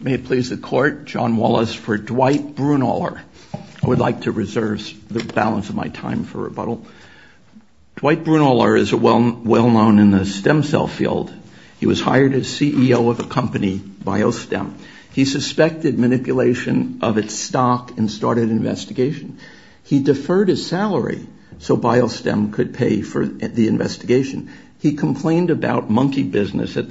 May it please the court, John Wallace for Dwight Brunoehler. I would like to reserve the balance of my time for rebuttal. Dwight Brunoehler is well-known in the stem cell field. He was hired as CEO of a company, BioStem. He suspected manipulation of its stock and started an investigation. He deferred his salary so BioStem could pay for the investigation. He complained about monkey business at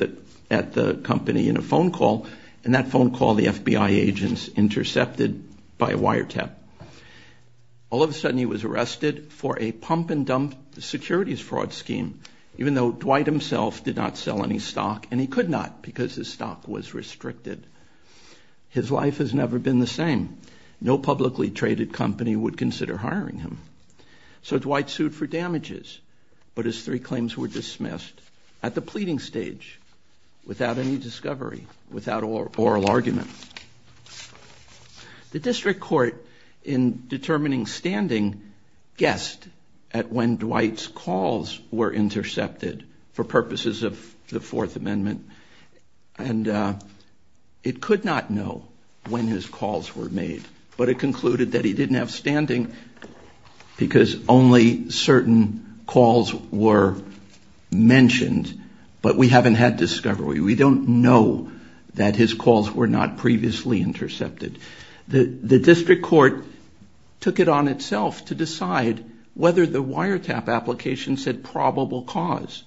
the company in a phone call, and that phone call the FBI agents intercepted by a wiretap. All of a sudden he was arrested for a pump-and-dump securities fraud scheme, even though Dwight himself did not sell any stock, and he could not because his stock was restricted. His life has never been the same. No publicly traded company would consider hiring him. So Dwight sued for damages, but his three claims were dismissed at the pleading stage, without any discovery, without oral argument. The district court, in determining standing, guessed at when Dwight's calls were intercepted for purposes of the Fourth Amendment, and it could not know when his calls were made, but it concluded that he didn't have standing because only certain calls were mentioned, but we haven't had discovery. We don't know that his calls were not previously intercepted. The district court took it on itself to decide whether the wiretap application said probable cause,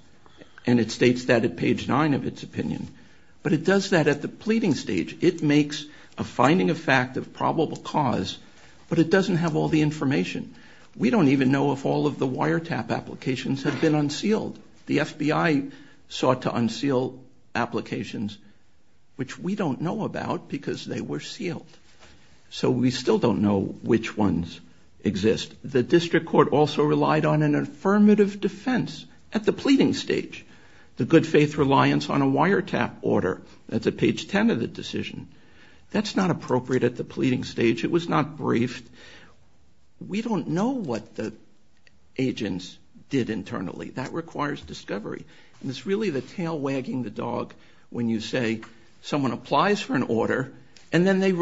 and it states that at page 9 of its opinion, but it does that at the pleading stage. It makes a finding of fact of probable cause, but it doesn't have all the information. We don't even know if all of the wiretap applications have been unsealed. The FBI sought to unseal applications, which we don't know about because they were sealed. So we still don't know which ones exist. The district court also relied on an affirmative defense at the pleading stage. The good faith reliance on a wiretap order. That's at page 10 of the decision. That's not appropriate at the pleading stage. It was not briefed. We don't know what the agents did internally. That requires discovery, and it's really the tail wagging the dog when you say someone applies for an order and then they,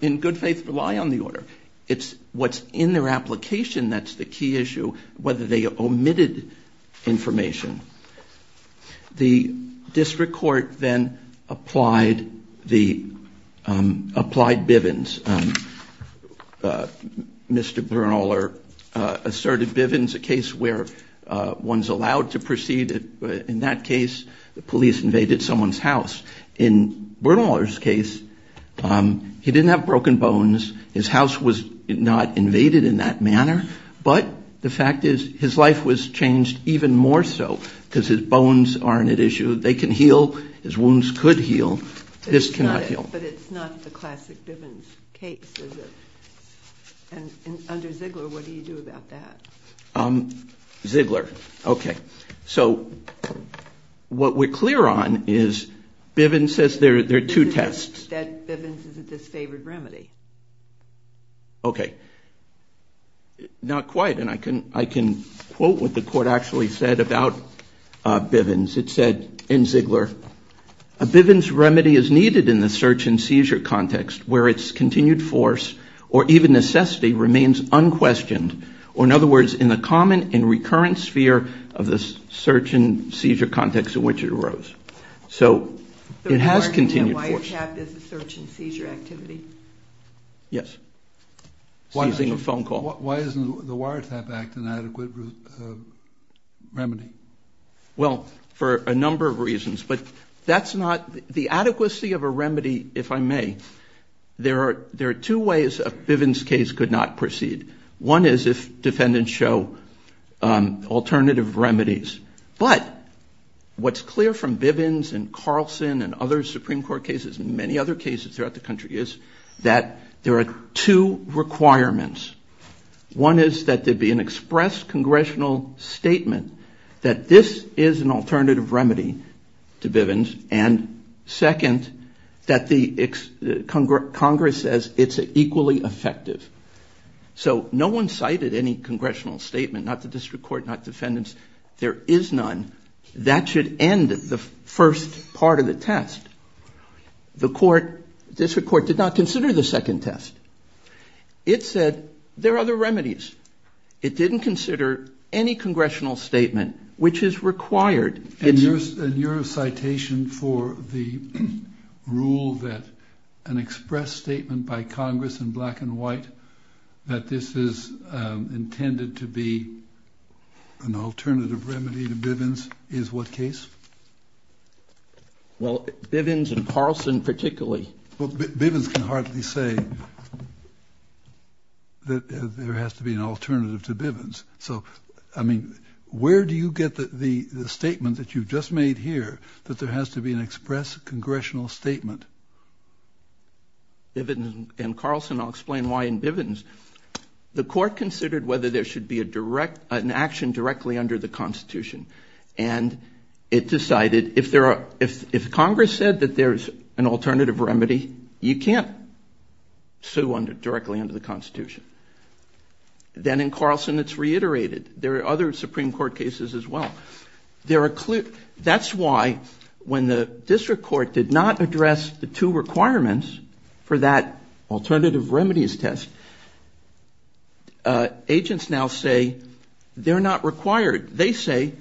in good faith, rely on the order. It's what's in their application that's the key issue, whether they omitted information. The district court then applied Bivens. Mr. Bernholer asserted Bivens, a case where one's allowed to proceed. In that case, the police invaded someone's house. In Bernholer's case, he didn't have broken bones. His house was not invaded in that manner, but the fact is his life was changed even more so because his bones aren't at issue. They can heal. His wounds could heal. This cannot heal. But it's not the classic Bivens case, is it? And under Ziegler, what do you do about that? Ziegler. Okay. So what we're clear on is Bivens says there are two tests. That Bivens is a disfavored remedy. Okay. Not quite, and I can quote what the court actually said about Bivens. It said in Ziegler, a Bivens remedy is needed in the search and seizure context where its continued force or even necessity remains unquestioned. Or, in other words, in the common and recurrent sphere of the search and seizure context in which it arose. So it has continued force. The wiretap is a search and seizure activity? Yes. Seizing a phone call. Why isn't the wiretap act an adequate remedy? Well, for a number of reasons, but that's not the adequacy of a remedy, if I may. There are two ways a Bivens case could not proceed. One is if defendants show alternative remedies. But what's clear from Bivens and Carlson and other Supreme Court cases and many other cases throughout the country is that there are two requirements. One is that there be an express congressional statement that this is an alternative remedy to Bivens. And second, that Congress says it's equally effective. So no one cited any congressional statement, not the district court, not defendants. There is none. That should end the first part of the test. The district court did not consider the second test. It said there are other remedies. It didn't consider any congressional statement, which is required. And your citation for the rule that an express statement by Congress in black and white that this is intended to be an alternative remedy to Bivens is what case? Well, Bivens and Carlson particularly. Well, Bivens can hardly say that there has to be an alternative to Bivens. So, I mean, where do you get the statement that you've just made here that there has to be an express congressional statement? In Bivens and Carlson, I'll explain why in Bivens, the court considered whether there should be an action directly under the Constitution. And it decided if Congress said that there's an alternative remedy, you can't sue directly under the Constitution. Then in Carlson, it's reiterated. There are other Supreme Court cases as well. That's why when the district court did not address the two requirements for that alternative remedies test, agents now say they're not required. They say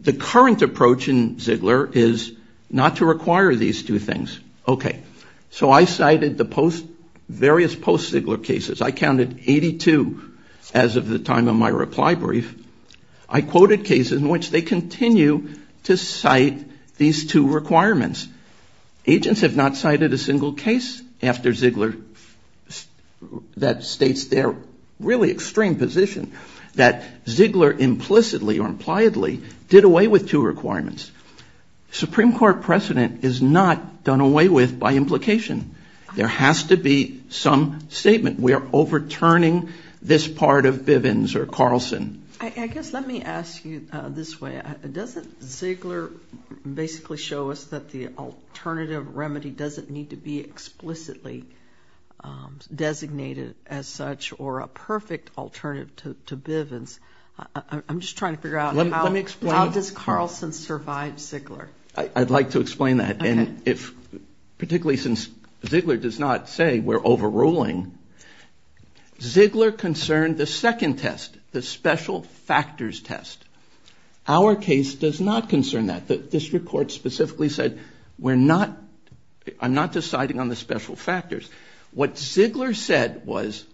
the current approach in Ziegler is not to require these two things. Okay. So I cited the various post-Ziegler cases. I counted 82 as of the time of my reply brief. I quoted cases in which they continue to cite these two requirements. Agents have not cited a single case after Ziegler that states their really extreme position, that Ziegler implicitly or impliedly did away with two requirements. Supreme Court precedent is not done away with by implication. There has to be some statement. We are overturning this part of Bivens or Carlson. I guess let me ask you this way. Doesn't Ziegler basically show us that the alternative remedy doesn't need to be explicitly designated as such or a perfect alternative to Bivens? I'm just trying to figure out how does Carlson survive Ziegler? I'd like to explain that. Particularly since Ziegler does not say we're overruling. Ziegler concerned the second test, the special factors test. Our case does not concern that. This report specifically said I'm not deciding on the special factors. What Ziegler said was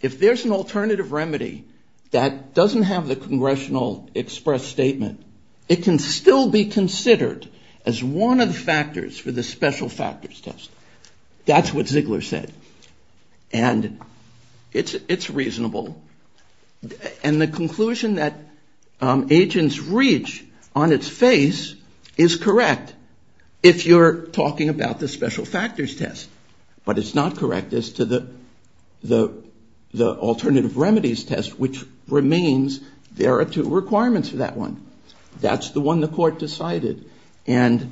if there's an alternative remedy that doesn't have the congressional express statement, it can still be considered as one of the factors for the special factors test. That's what Ziegler said. And it's reasonable. And the conclusion that agents reach on its face is correct if you're talking about the special factors test. But it's not correct as to the alternative remedies test, which remains there are two requirements for that one. That's the one the court decided. And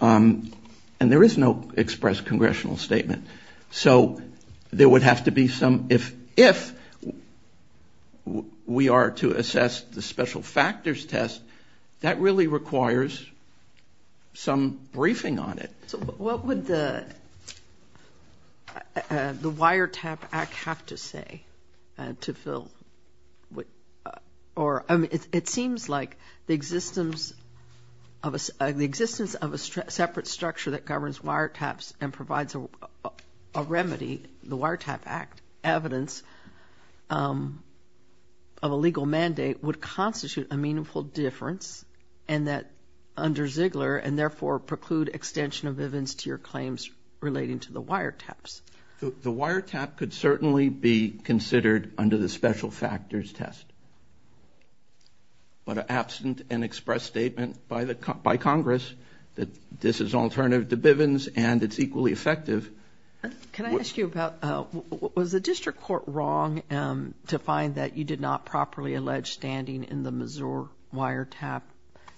there is no express congressional statement. So there would have to be some if we are to assess the special factors test, that really requires some briefing on it. So what would the Wiretap Act have to say to fill or it seems like the existence of a separate structure that governs wiretaps and provides a remedy, the Wiretap Act, evidence of a legal mandate would constitute a meaningful difference and that under Ziegler and therefore preclude extension of Bivens to your claims relating to the wiretaps. The wiretap could certainly be considered under the special factors test. But absent an express statement by Congress that this is alternative to Bivens and it's equally effective. Can I ask you about, was the district court wrong to find that you did not properly allege standing in the Missouri wiretap?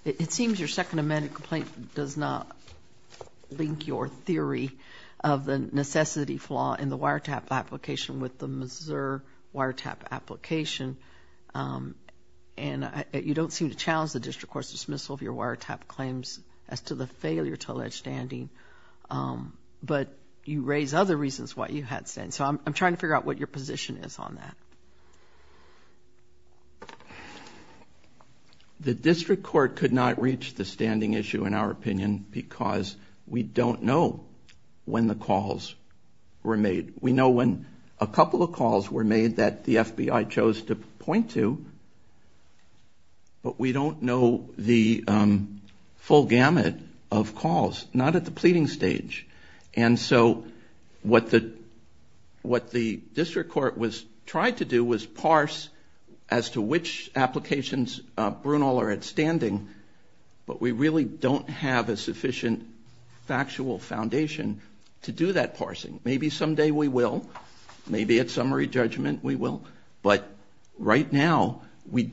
It seems your second amendment complaint does not link your theory of the necessity flaw in the wiretap application with the Missouri wiretap application. And you don't seem to challenge the district court's dismissal of your wiretap claims as to the failure to allege standing. But you raise other reasons why you had standing. So I'm trying to figure out what your position is on that. The district court could not reach the standing issue in our opinion because we don't know when the calls were made. We know when a couple of calls were made that the FBI chose to point to, but we don't know the full gamut of calls. Not at the pleading stage. And so what the district court tried to do was parse as to which applications Brunel are at standing. But we really don't have a sufficient factual foundation to do that parsing. Maybe someday we will. Maybe at summary judgment we will. But right now, we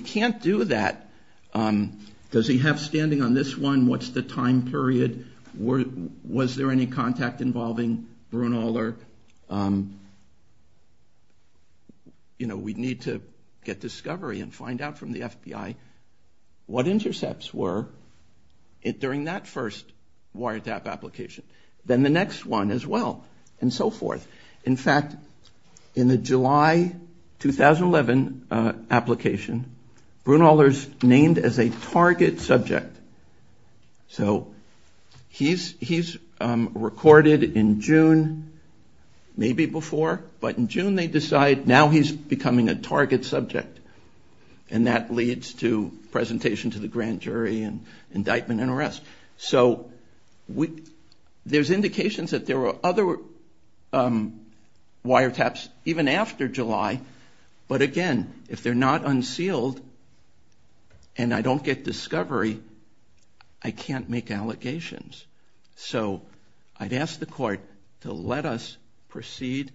can't do that. Does he have standing on this one? What's the time period? Was there any contact involving Brunel? You know, we need to get discovery and find out from the FBI what intercepts were during that first wiretap application. Then the next one as well. And so forth. In fact, in the July 2011 application, Brunel is named as a target subject. So he's recorded in June, maybe before, but in June they decide now he's becoming a target subject. And that leads to presentation to the grand jury and indictment and arrest. So there's indications that there were other wiretaps even after July. But again, if they're not unsealed and I don't get discovery, I can't make allegations. So I'd ask the court to let us proceed,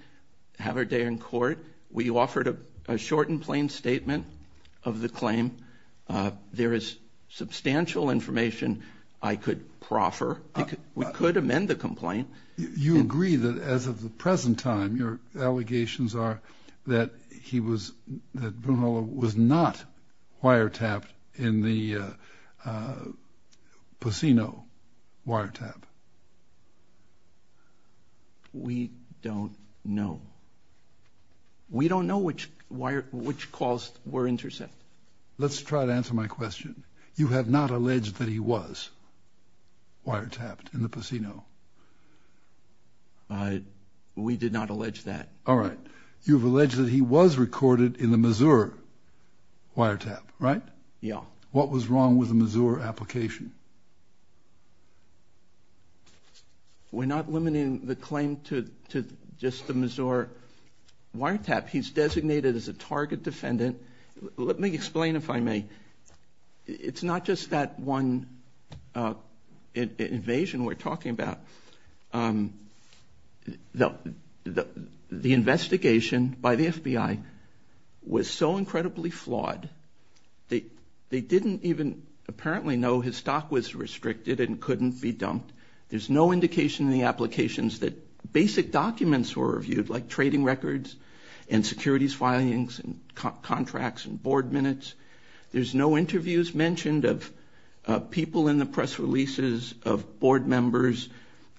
have our day in court. We offered a short and plain statement of the claim. There is substantial information I could proffer. We could amend the complaint. You agree that as of the present time, your allegations are that Brunel was not wiretapped in the Pacino wiretap? We don't know. We don't know which calls were intercepted. Let's try to answer my question. You have not alleged that he was wiretapped in the Pacino? We did not allege that. All right. You've alleged that he was recorded in the Mazur wiretap, right? Yeah. What was wrong with the Mazur application? We're not limiting the claim to just the Mazur wiretap. He's designated as a target defendant. Let me explain, if I may. It's not just that one invasion we're talking about. The investigation by the FBI was so incredibly flawed, they didn't even apparently know his stock was restricted and couldn't be dumped. There's no indication in the applications that basic documents were reviewed, like trading records and securities filings and contracts and board minutes. There's no interviews mentioned of people in the press releases, of board members,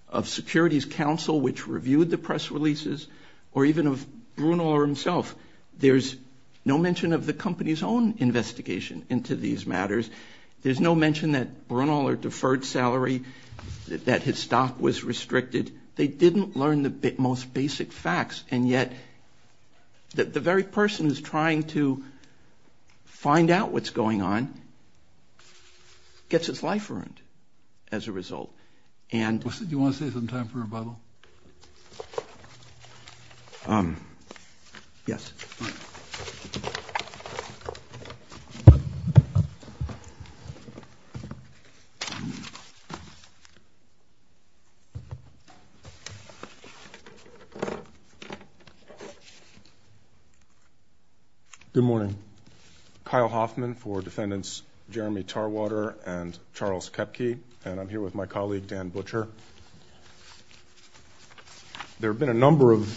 of Securities Council, which reviewed the press releases, or even of Brunel himself. There's no mention of the company's own investigation into these matters. There's no mention that Brunel had a deferred salary, that his stock was restricted. They didn't learn the most basic facts, and yet the very person who's trying to find out what's going on gets his life earned as a result. Do you want to save some time for rebuttal? Yes. Thank you. Good morning. Kyle Hoffman for Defendants Jeremy Tarwater and Charles Koepke, and I'm here with my colleague Dan Butcher. There have been a number of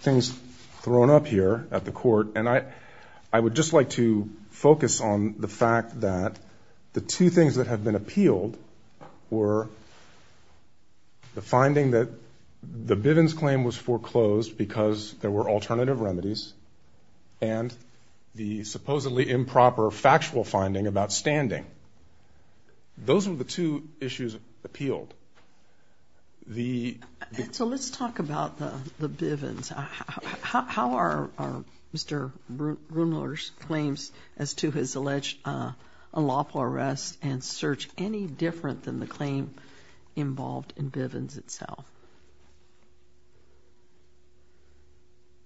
things thrown up here at the Court, and I would just like to focus on the fact that the two things that have been appealed were the finding that the Bivens claim was foreclosed because there were alternative remedies and the supposedly improper factual finding about standing. Those were the two issues appealed. So let's talk about the Bivens. How are Mr. Brunel's claims as to his alleged unlawful arrest and search any different than the claim involved in Bivens itself?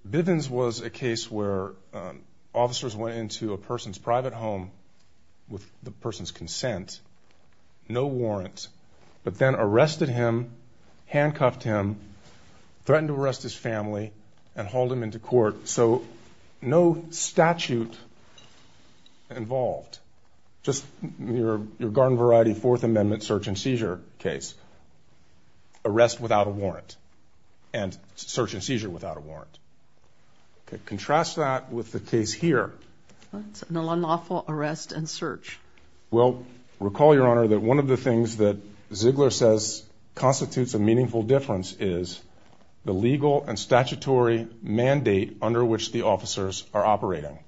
Bivens was a case where officers went into a person's private home with the person's consent, no warrant, but then arrested him, handcuffed him, threatened to arrest his family, and hauled him into court. So no statute involved. Just your garden variety Fourth Amendment search and seizure case, arrest without a warrant, and search and seizure without a warrant. Contrast that with the case here. An unlawful arrest and search. Well, recall, Your Honor, that one of the things that Ziegler says constitutes a meaningful difference is the legal and statutory mandate under which the officers are operating.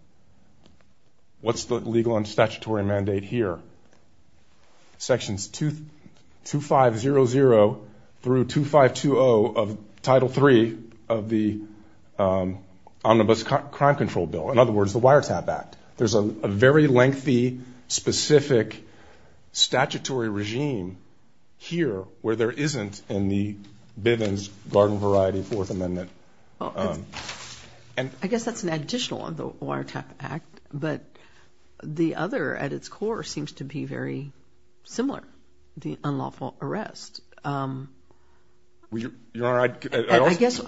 What's the legal and statutory mandate here? Sections 2500 through 2520 of Title III of the Omnibus Crime Control Bill. In other words, the Wiretap Act. There's a very lengthy, specific statutory regime here where there isn't in the Bivens garden variety Fourth Amendment. I guess that's an additional on the Wiretap Act, but the other at its core seems to be very similar, the unlawful arrest. Your Honor, I guess...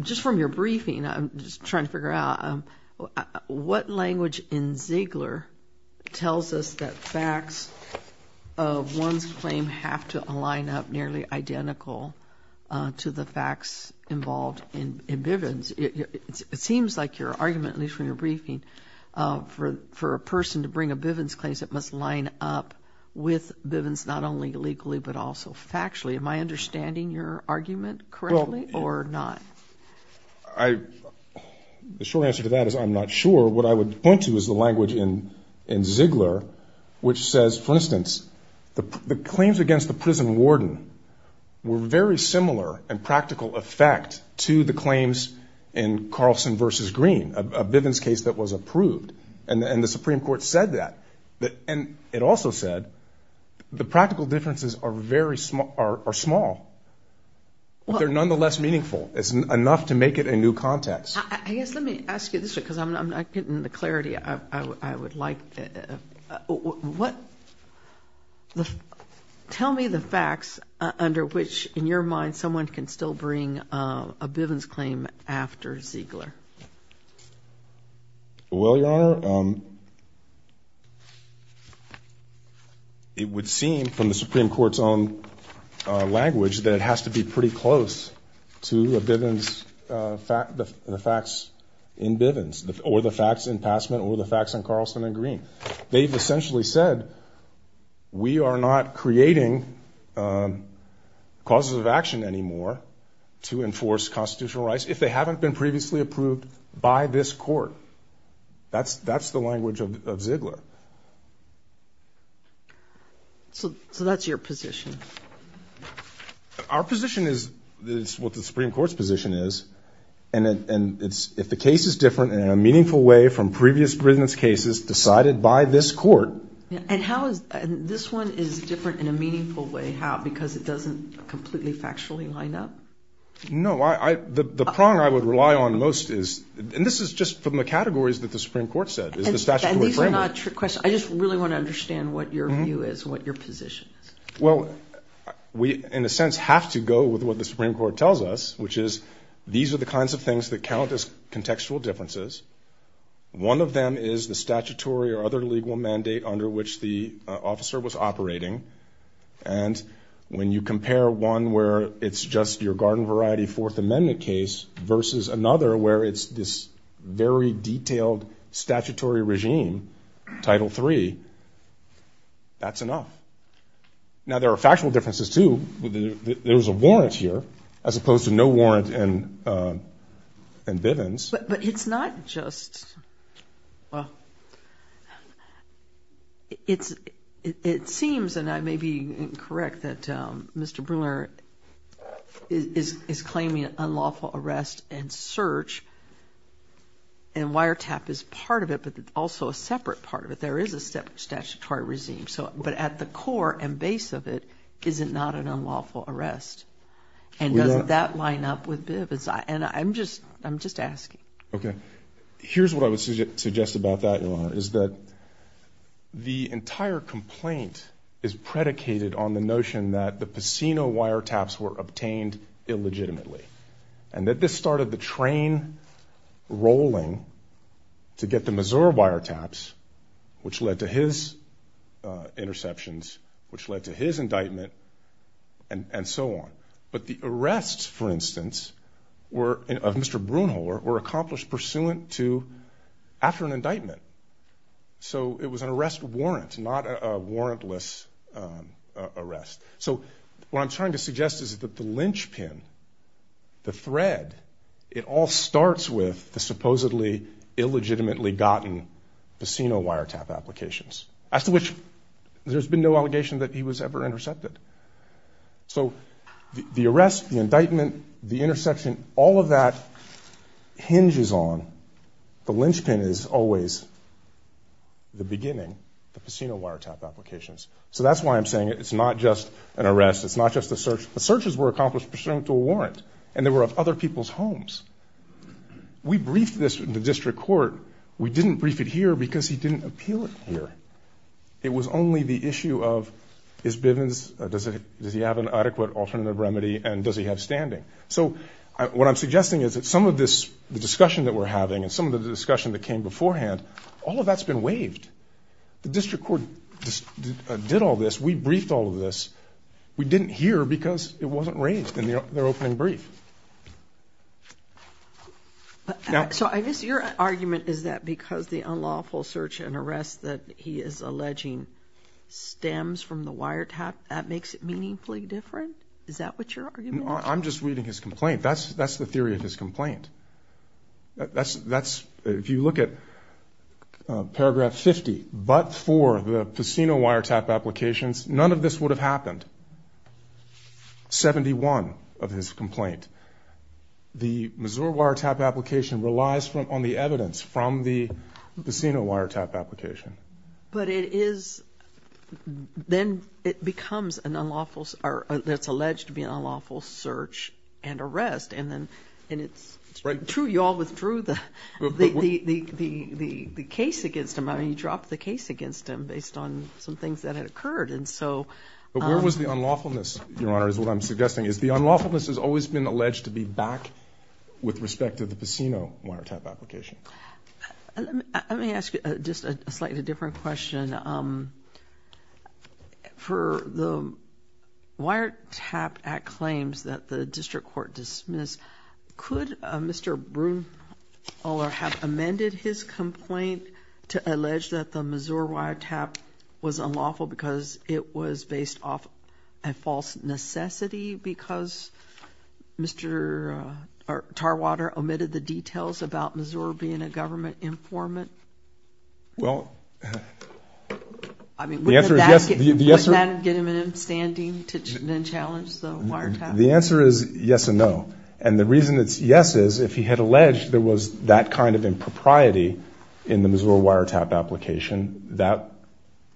Just from your briefing, I'm just trying to figure out, what language in Ziegler tells us that facts of one's claim have to align up nearly identical to the facts involved in Bivens? It seems like your argument, at least from your briefing, for a person to bring a Bivens case, it must line up with Bivens not only legally but also factually. Am I understanding your argument correctly or not? The short answer to that is I'm not sure. What I would point to is the language in Ziegler, which says, for instance, the claims against the prison warden were very similar in practical effect to the claims in Carlson v. Green, a Bivens case that was approved, and the Supreme Court said that. And it also said the practical differences are small, but they're nonetheless meaningful. It's enough to make it a new context. I guess let me ask you this, because I'm not getting the clarity I would like. Tell me the facts under which, in your mind, someone can still bring a Bivens claim after Ziegler. Well, Your Honor, it would seem, from the Supreme Court's own language, that it has to be pretty close to the facts in Bivens or the facts in Passman or the facts in Carlson v. Green. They've essentially said we are not creating causes of action anymore to enforce constitutional rights. That's if they haven't been previously approved by this Court. That's the language of Ziegler. So that's your position? Our position is what the Supreme Court's position is. And if the case is different in a meaningful way from previous Bivens cases decided by this Court… And this one is different in a meaningful way because it doesn't completely factually line up? No. The prong I would rely on most is, and this is just from the categories that the Supreme Court said, is the statutory framework. And these are not trick questions. I just really want to understand what your view is, what your position is. Well, we, in a sense, have to go with what the Supreme Court tells us, which is these are the kinds of things that count as contextual differences. One of them is the statutory or other legal mandate under which the officer was operating. And when you compare one where it's just your garden variety Fourth Amendment case versus another where it's this very detailed statutory regime, Title III, that's enough. Now, there are factual differences, too. There's a warrant here, as opposed to no warrant in Bivens. But it's not just… It seems, and I may be incorrect, that Mr. Bruner is claiming unlawful arrest and search, and wiretap is part of it, but also a separate part of it. There is a separate statutory regime. But at the core and base of it, is it not an unlawful arrest? And does that line up with Bivens? And I'm just asking. Okay. Here's what I would suggest about that, Your Honor, is that the entire complaint is predicated on the notion that the Pacino wiretaps were obtained illegitimately, and that this started the train rolling to get the Mazur wiretaps, which led to his interceptions, which led to his indictment, and so on. But the arrests, for instance, of Mr. Bruner, were accomplished pursuant to after an indictment. So it was an arrest warrant, not a warrantless arrest. So what I'm trying to suggest is that the linchpin, the thread, it all starts with the supposedly illegitimately gotten Pacino wiretap applications, as to which there's been no allegation that he was ever intercepted. So the arrest, the indictment, the interception, all of that hinges on, the linchpin is always the beginning, the Pacino wiretap applications. So that's why I'm saying it's not just an arrest, it's not just a search. The searches were accomplished pursuant to a warrant, and they were of other people's homes. We briefed this in the district court. We didn't brief it here because he didn't appeal it here. It was only the issue of, is Bivens, does he have an adequate alternative remedy, and does he have standing? So what I'm suggesting is that some of this, the discussion that we're having, and some of the discussion that came beforehand, all of that's been waived. The district court did all this. We briefed all of this. We didn't hear because it wasn't raised in their opening brief. So I guess your argument is that because the unlawful search and arrest that he is alleging stems from the wiretap, that makes it meaningfully different? Is that what your argument is? I'm just reading his complaint. That's the theory of his complaint. That's, if you look at paragraph 50, but for the Pacino wiretap applications, none of this would have happened. 71 of his complaint. The Missouri wiretap application relies on the evidence from the Pacino wiretap application. But it is, then it becomes an unlawful, or that's alleged to be an unlawful search and arrest. And then, and it's true you all withdrew the case against him. I mean, you dropped the case against him based on some things that had occurred. But where was the unlawfulness, Your Honor, is what I'm suggesting. Is the unlawfulness has always been alleged to be back with respect to the Pacino wiretap application. Let me ask you just a slightly different question. For the Wiretap Act claims that the district court dismissed, could Mr. Brunholer have amended his complaint to allege that the Missouri wiretap was unlawful because it was based off a false necessity because Mr. Tarwater omitted the details about Missouri being a government informant? Well, the answer is yes. I mean, would that get him in standing to then challenge the wiretap? The answer is yes and no. And the reason it's yes is if he had alleged there was that kind of impropriety in the Missouri wiretap application, that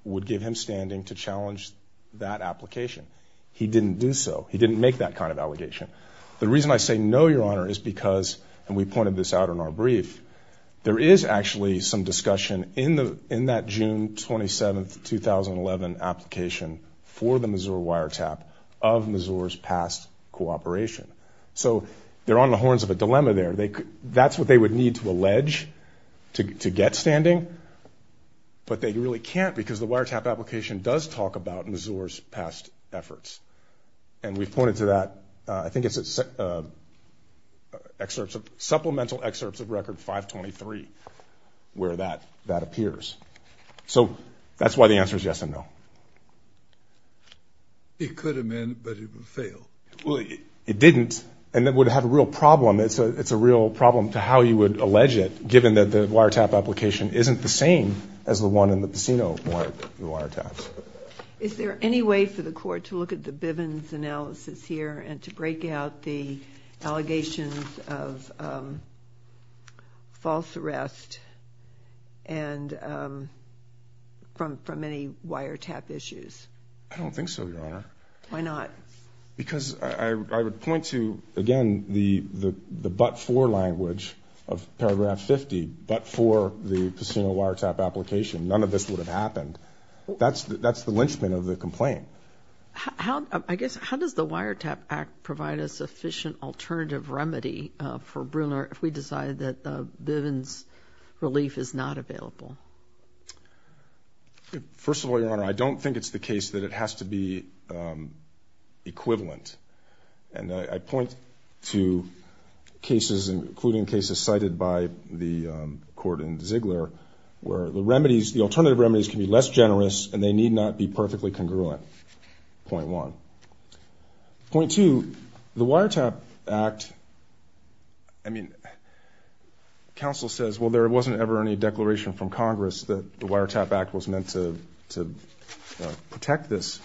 would give him standing to challenge that application. He didn't do so. He didn't make that kind of allegation. The reason I say no, Your Honor, is because, and we pointed this out in our brief, there is actually some discussion in that June 27, 2011 application for the Missouri wiretap of Missouri's past cooperation. So they're on the horns of a dilemma there. That's what they would need to allege to get standing, but they really can't because the wiretap application does talk about Missouri's past efforts. And we've pointed to that. I think it's supplemental excerpts of Record 523 where that appears. So that's why the answer is yes and no. It could have been, but it would fail. Well, it didn't, and it would have a real problem. It's a real problem to how you would allege it, given that the wiretap application isn't the same as the one in the Pacino wiretaps. Is there any way for the Court to look at the Bivens analysis here and to break out the allegations of false arrest from any wiretap issues? I don't think so, Your Honor. Why not? Because I would point to, again, the but for language of paragraph 50, but for the Pacino wiretap application, none of this would have happened. That's the lynchpin of the complaint. I guess, how does the Wiretap Act provide a sufficient alternative remedy for Bruner if we decide that Bivens relief is not available? First of all, Your Honor, I don't think it's the case that it has to be equivalent. And I point to cases, including cases cited by the Court in Ziegler, where the remedies, the alternative remedies can be less generous and they need not be perfectly congruent, point one. Point two, the Wiretap Act, I mean, counsel says, well, there wasn't ever any declaration from Congress that the Wiretap Act was meant to protect this.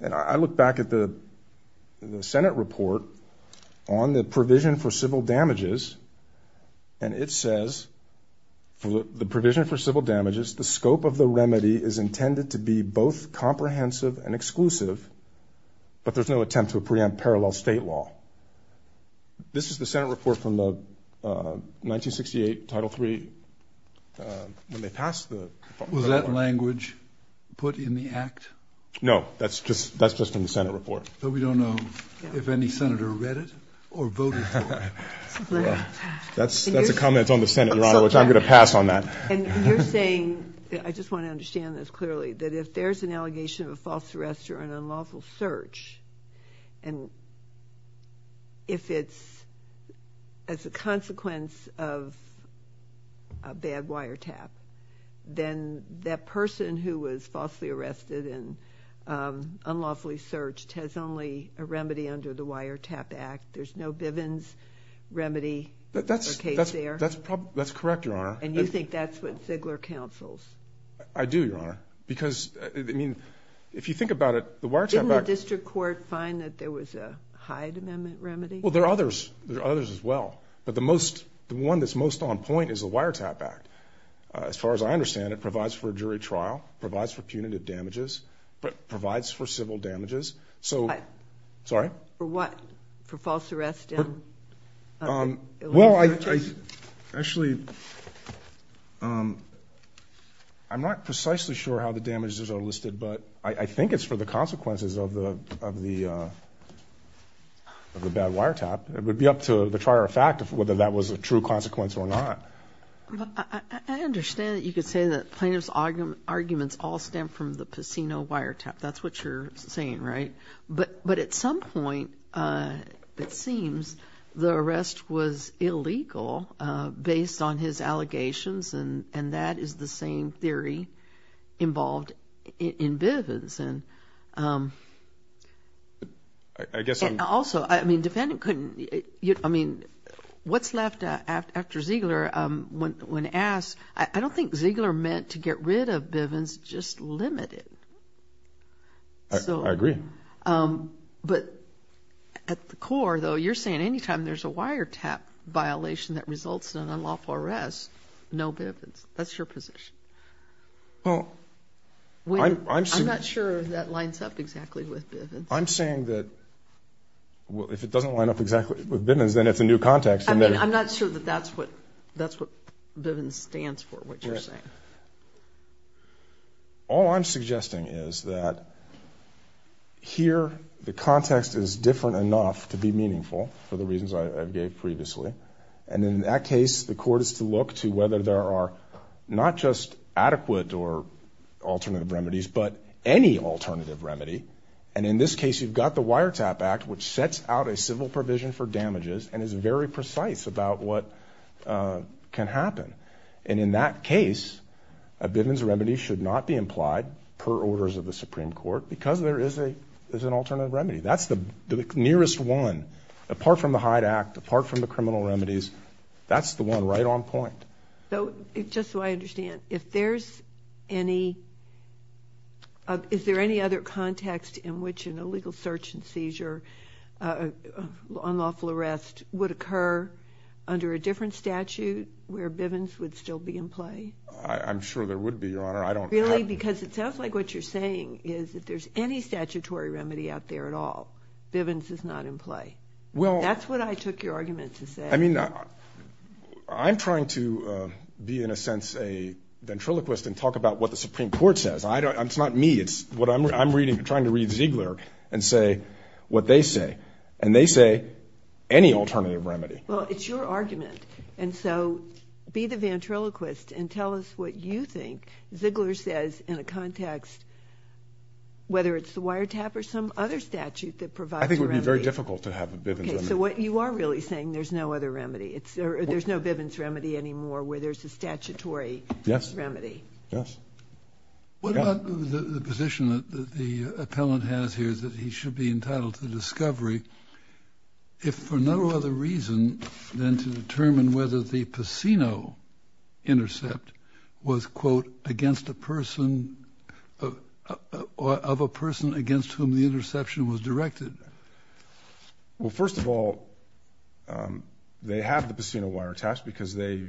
And I look back at the Senate report on the provision for civil damages, and it says, the provision for civil damages, the scope of the remedy is intended to be both comprehensive and exclusive, but there's no attempt to preempt parallel state law. This is the Senate report from the 1968 Title III. When they passed the- Was that language put in the act? No. That's just from the Senate report. But we don't know if any senator read it or voted for it. That's a comment on the Senate, Your Honor, which I'm going to pass on that. And you're saying, I just want to understand this clearly, that if there's an allegation of a false arrest or an unlawful search, and if it's as a consequence of a bad wiretap, then that person who was falsely arrested and unlawfully searched has only a remedy under the Wiretap Act. There's no Bivens remedy or case there? That's correct, Your Honor. And you think that's what Ziegler counsels? I do, Your Honor, because, I mean, if you think about it, the Wiretap Act- Didn't the district court find that there was a Hyde Amendment remedy? Well, there are others. There are others as well. But the one that's most on point is the Wiretap Act. As far as I understand it, it provides for a jury trial, provides for punitive damages, provides for civil damages. So- Sorry? For what? For false arrest and- Well, actually, I'm not precisely sure how the damages are listed, but I think it's for the consequences of the bad wiretap. It would be up to the trier of fact whether that was a true consequence or not. I understand that you could say that plaintiff's arguments all stem from the Pacino wiretap. That's what you're saying, right? But at some point, it seems, the arrest was illegal based on his allegations, and that is the same theory involved in Bivens. I guess I'm- And also, I mean, defendant couldn't, I mean, what's left after Ziegler, when asked, I don't think Ziegler meant to get rid of Bivens, just limit it. I agree. But at the core, though, you're saying any time there's a wiretap violation that results in an unlawful arrest, no Bivens. That's your position. Well, I'm- I'm not sure that lines up exactly with Bivens. I'm saying that if it doesn't line up exactly with Bivens, then it's a new context. I mean, I'm not sure that that's what Bivens stands for, what you're saying. All I'm suggesting is that here the context is different enough to be meaningful, for the reasons I gave previously, and in that case the court is to look to whether there are not just adequate or alternative remedies, but any alternative remedy. And in this case, you've got the Wiretap Act, which sets out a civil provision for damages and is very precise about what can happen. And in that case, a Bivens remedy should not be implied per orders of the Supreme Court because there is an alternative remedy. That's the nearest one, apart from the Hyde Act, apart from the criminal remedies. That's the one right on point. So just so I understand, if there's any- is there any other context in which an illegal search and seizure, unlawful arrest, would occur under a different statute where Bivens would still be in play? I'm sure there would be, Your Honor. I don't- Really? Because it sounds like what you're saying is if there's any statutory remedy out there at all, Bivens is not in play. Well- That's what I took your argument to say. I mean, I'm trying to be, in a sense, a ventriloquist and talk about what the Supreme Court says. It's not me. It's what I'm reading. I'm trying to read Ziegler and say what they say, and they say any alternative remedy. Well, it's your argument. And so be the ventriloquist and tell us what you think Ziegler says in a context, whether it's the Wiretap or some other statute that provides a remedy. I think it would be very difficult to have a Bivens remedy. Okay. So what you are really saying, there's no other remedy. There's no Bivens remedy anymore where there's a statutory remedy. Yes. What about the position that the appellant has here that he should be entitled to discovery if for no other reason than to determine whether the Pacino intercept was, quote, against a person, of a person against whom the interception was directed? Well, first of all, they have the Pacino Wiretaps because they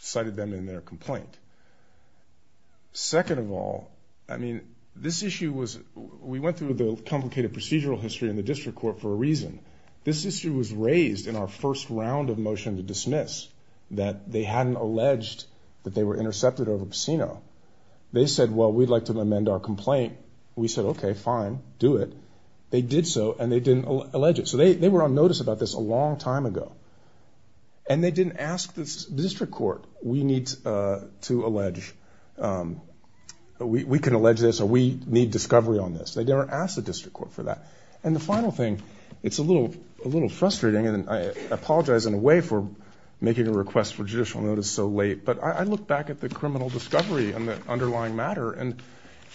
cited them in their complaint. Second of all, I mean, this issue was, we went through the complicated procedural history in the district court for a reason. This issue was raised in our first round of motion to dismiss, that they hadn't alleged that they were intercepted over Pacino. They said, well, we'd like to amend our complaint. We said, okay, fine, do it. They did so and they didn't allege it. So they were on notice about this a long time ago. And they didn't ask the district court, we need to allege, we can allege this or we need discovery on this. They never asked the district court for that. And the final thing, it's a little frustrating, and I apologize in a way for making a request for judicial notice so late, but I look back at the criminal discovery and the underlying matter, and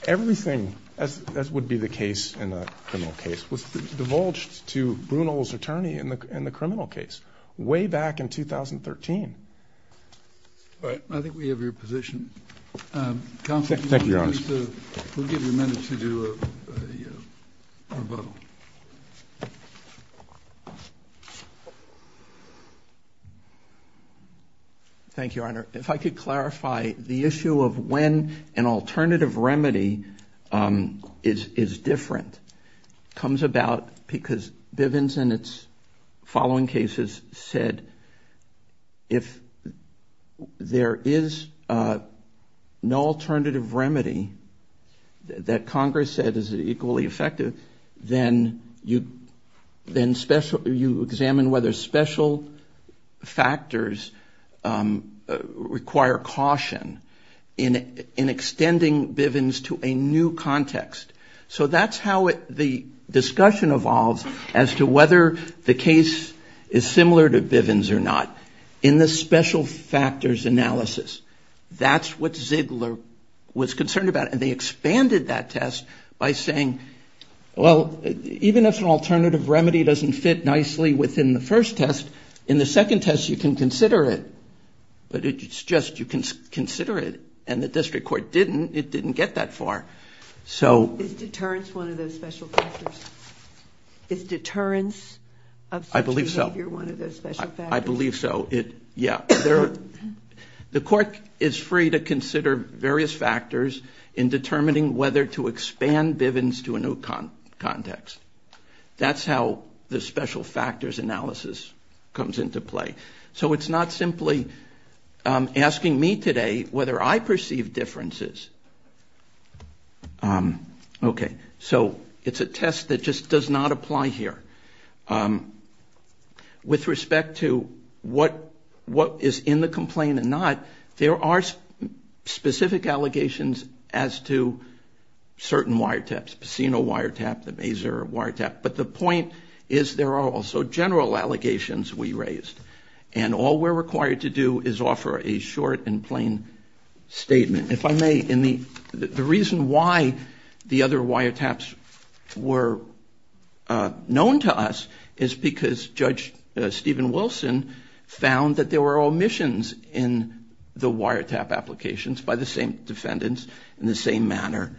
everything, as would be the case in a criminal case, was divulged to Brunel's attorney in the criminal case way back in 2013. All right. I think we have your position. Thank you, Your Honor. We'll give you a minute to do a rebuttal. Thank you, Your Honor. If I could clarify the issue of when an alternative remedy is different. It comes about because Bivens in its following cases said, if there is no alternative remedy that Congress said is equally effective, then you examine whether special factors require caution in extending Bivens to a new context. So that's how the discussion evolves as to whether the case is similar to Bivens or not. In the special factors analysis, that's what Ziegler was concerned about, and they expanded that test by saying, well, even if an alternative remedy doesn't fit nicely within the first test, in the second test you can consider it, but it's just you can consider it. And the district court didn't. It didn't get that far. Is deterrence one of those special factors? Is deterrence of such behavior one of those special factors? I believe so. Yeah. The court is free to consider various factors in determining whether to expand Bivens to a new context. That's how the special factors analysis comes into play. So it's not simply asking me today whether I perceive differences. Okay. So it's a test that just does not apply here. With respect to what is in the complaint and not, there are specific allegations as to certain wiretaps, Pacino wiretap, the Mazur wiretap. But the point is there are also general allegations we raised. And all we're required to do is offer a short and plain statement. If I may, the reason why the other wiretaps were known to us is because Judge Stephen Wilson found that there were omissions in the wiretap applications by the same defendants in the same matter.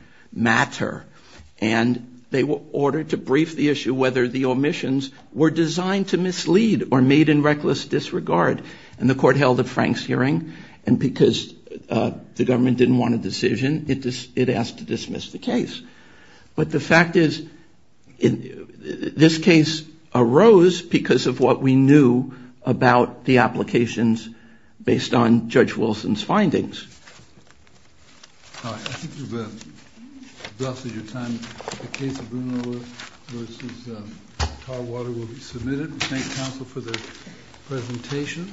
And they were ordered to brief the issue whether the omissions were designed to mislead or made in reckless disregard. And the court held a Franks hearing. And because the government didn't want a decision, it asked to dismiss the case. But the fact is this case arose because of what we knew about the applications based on Judge Wilson's findings. All right. I think we've exhausted your time. The case of Bruno v. Tarwater will be submitted. Thank you, counsel, for the presentation.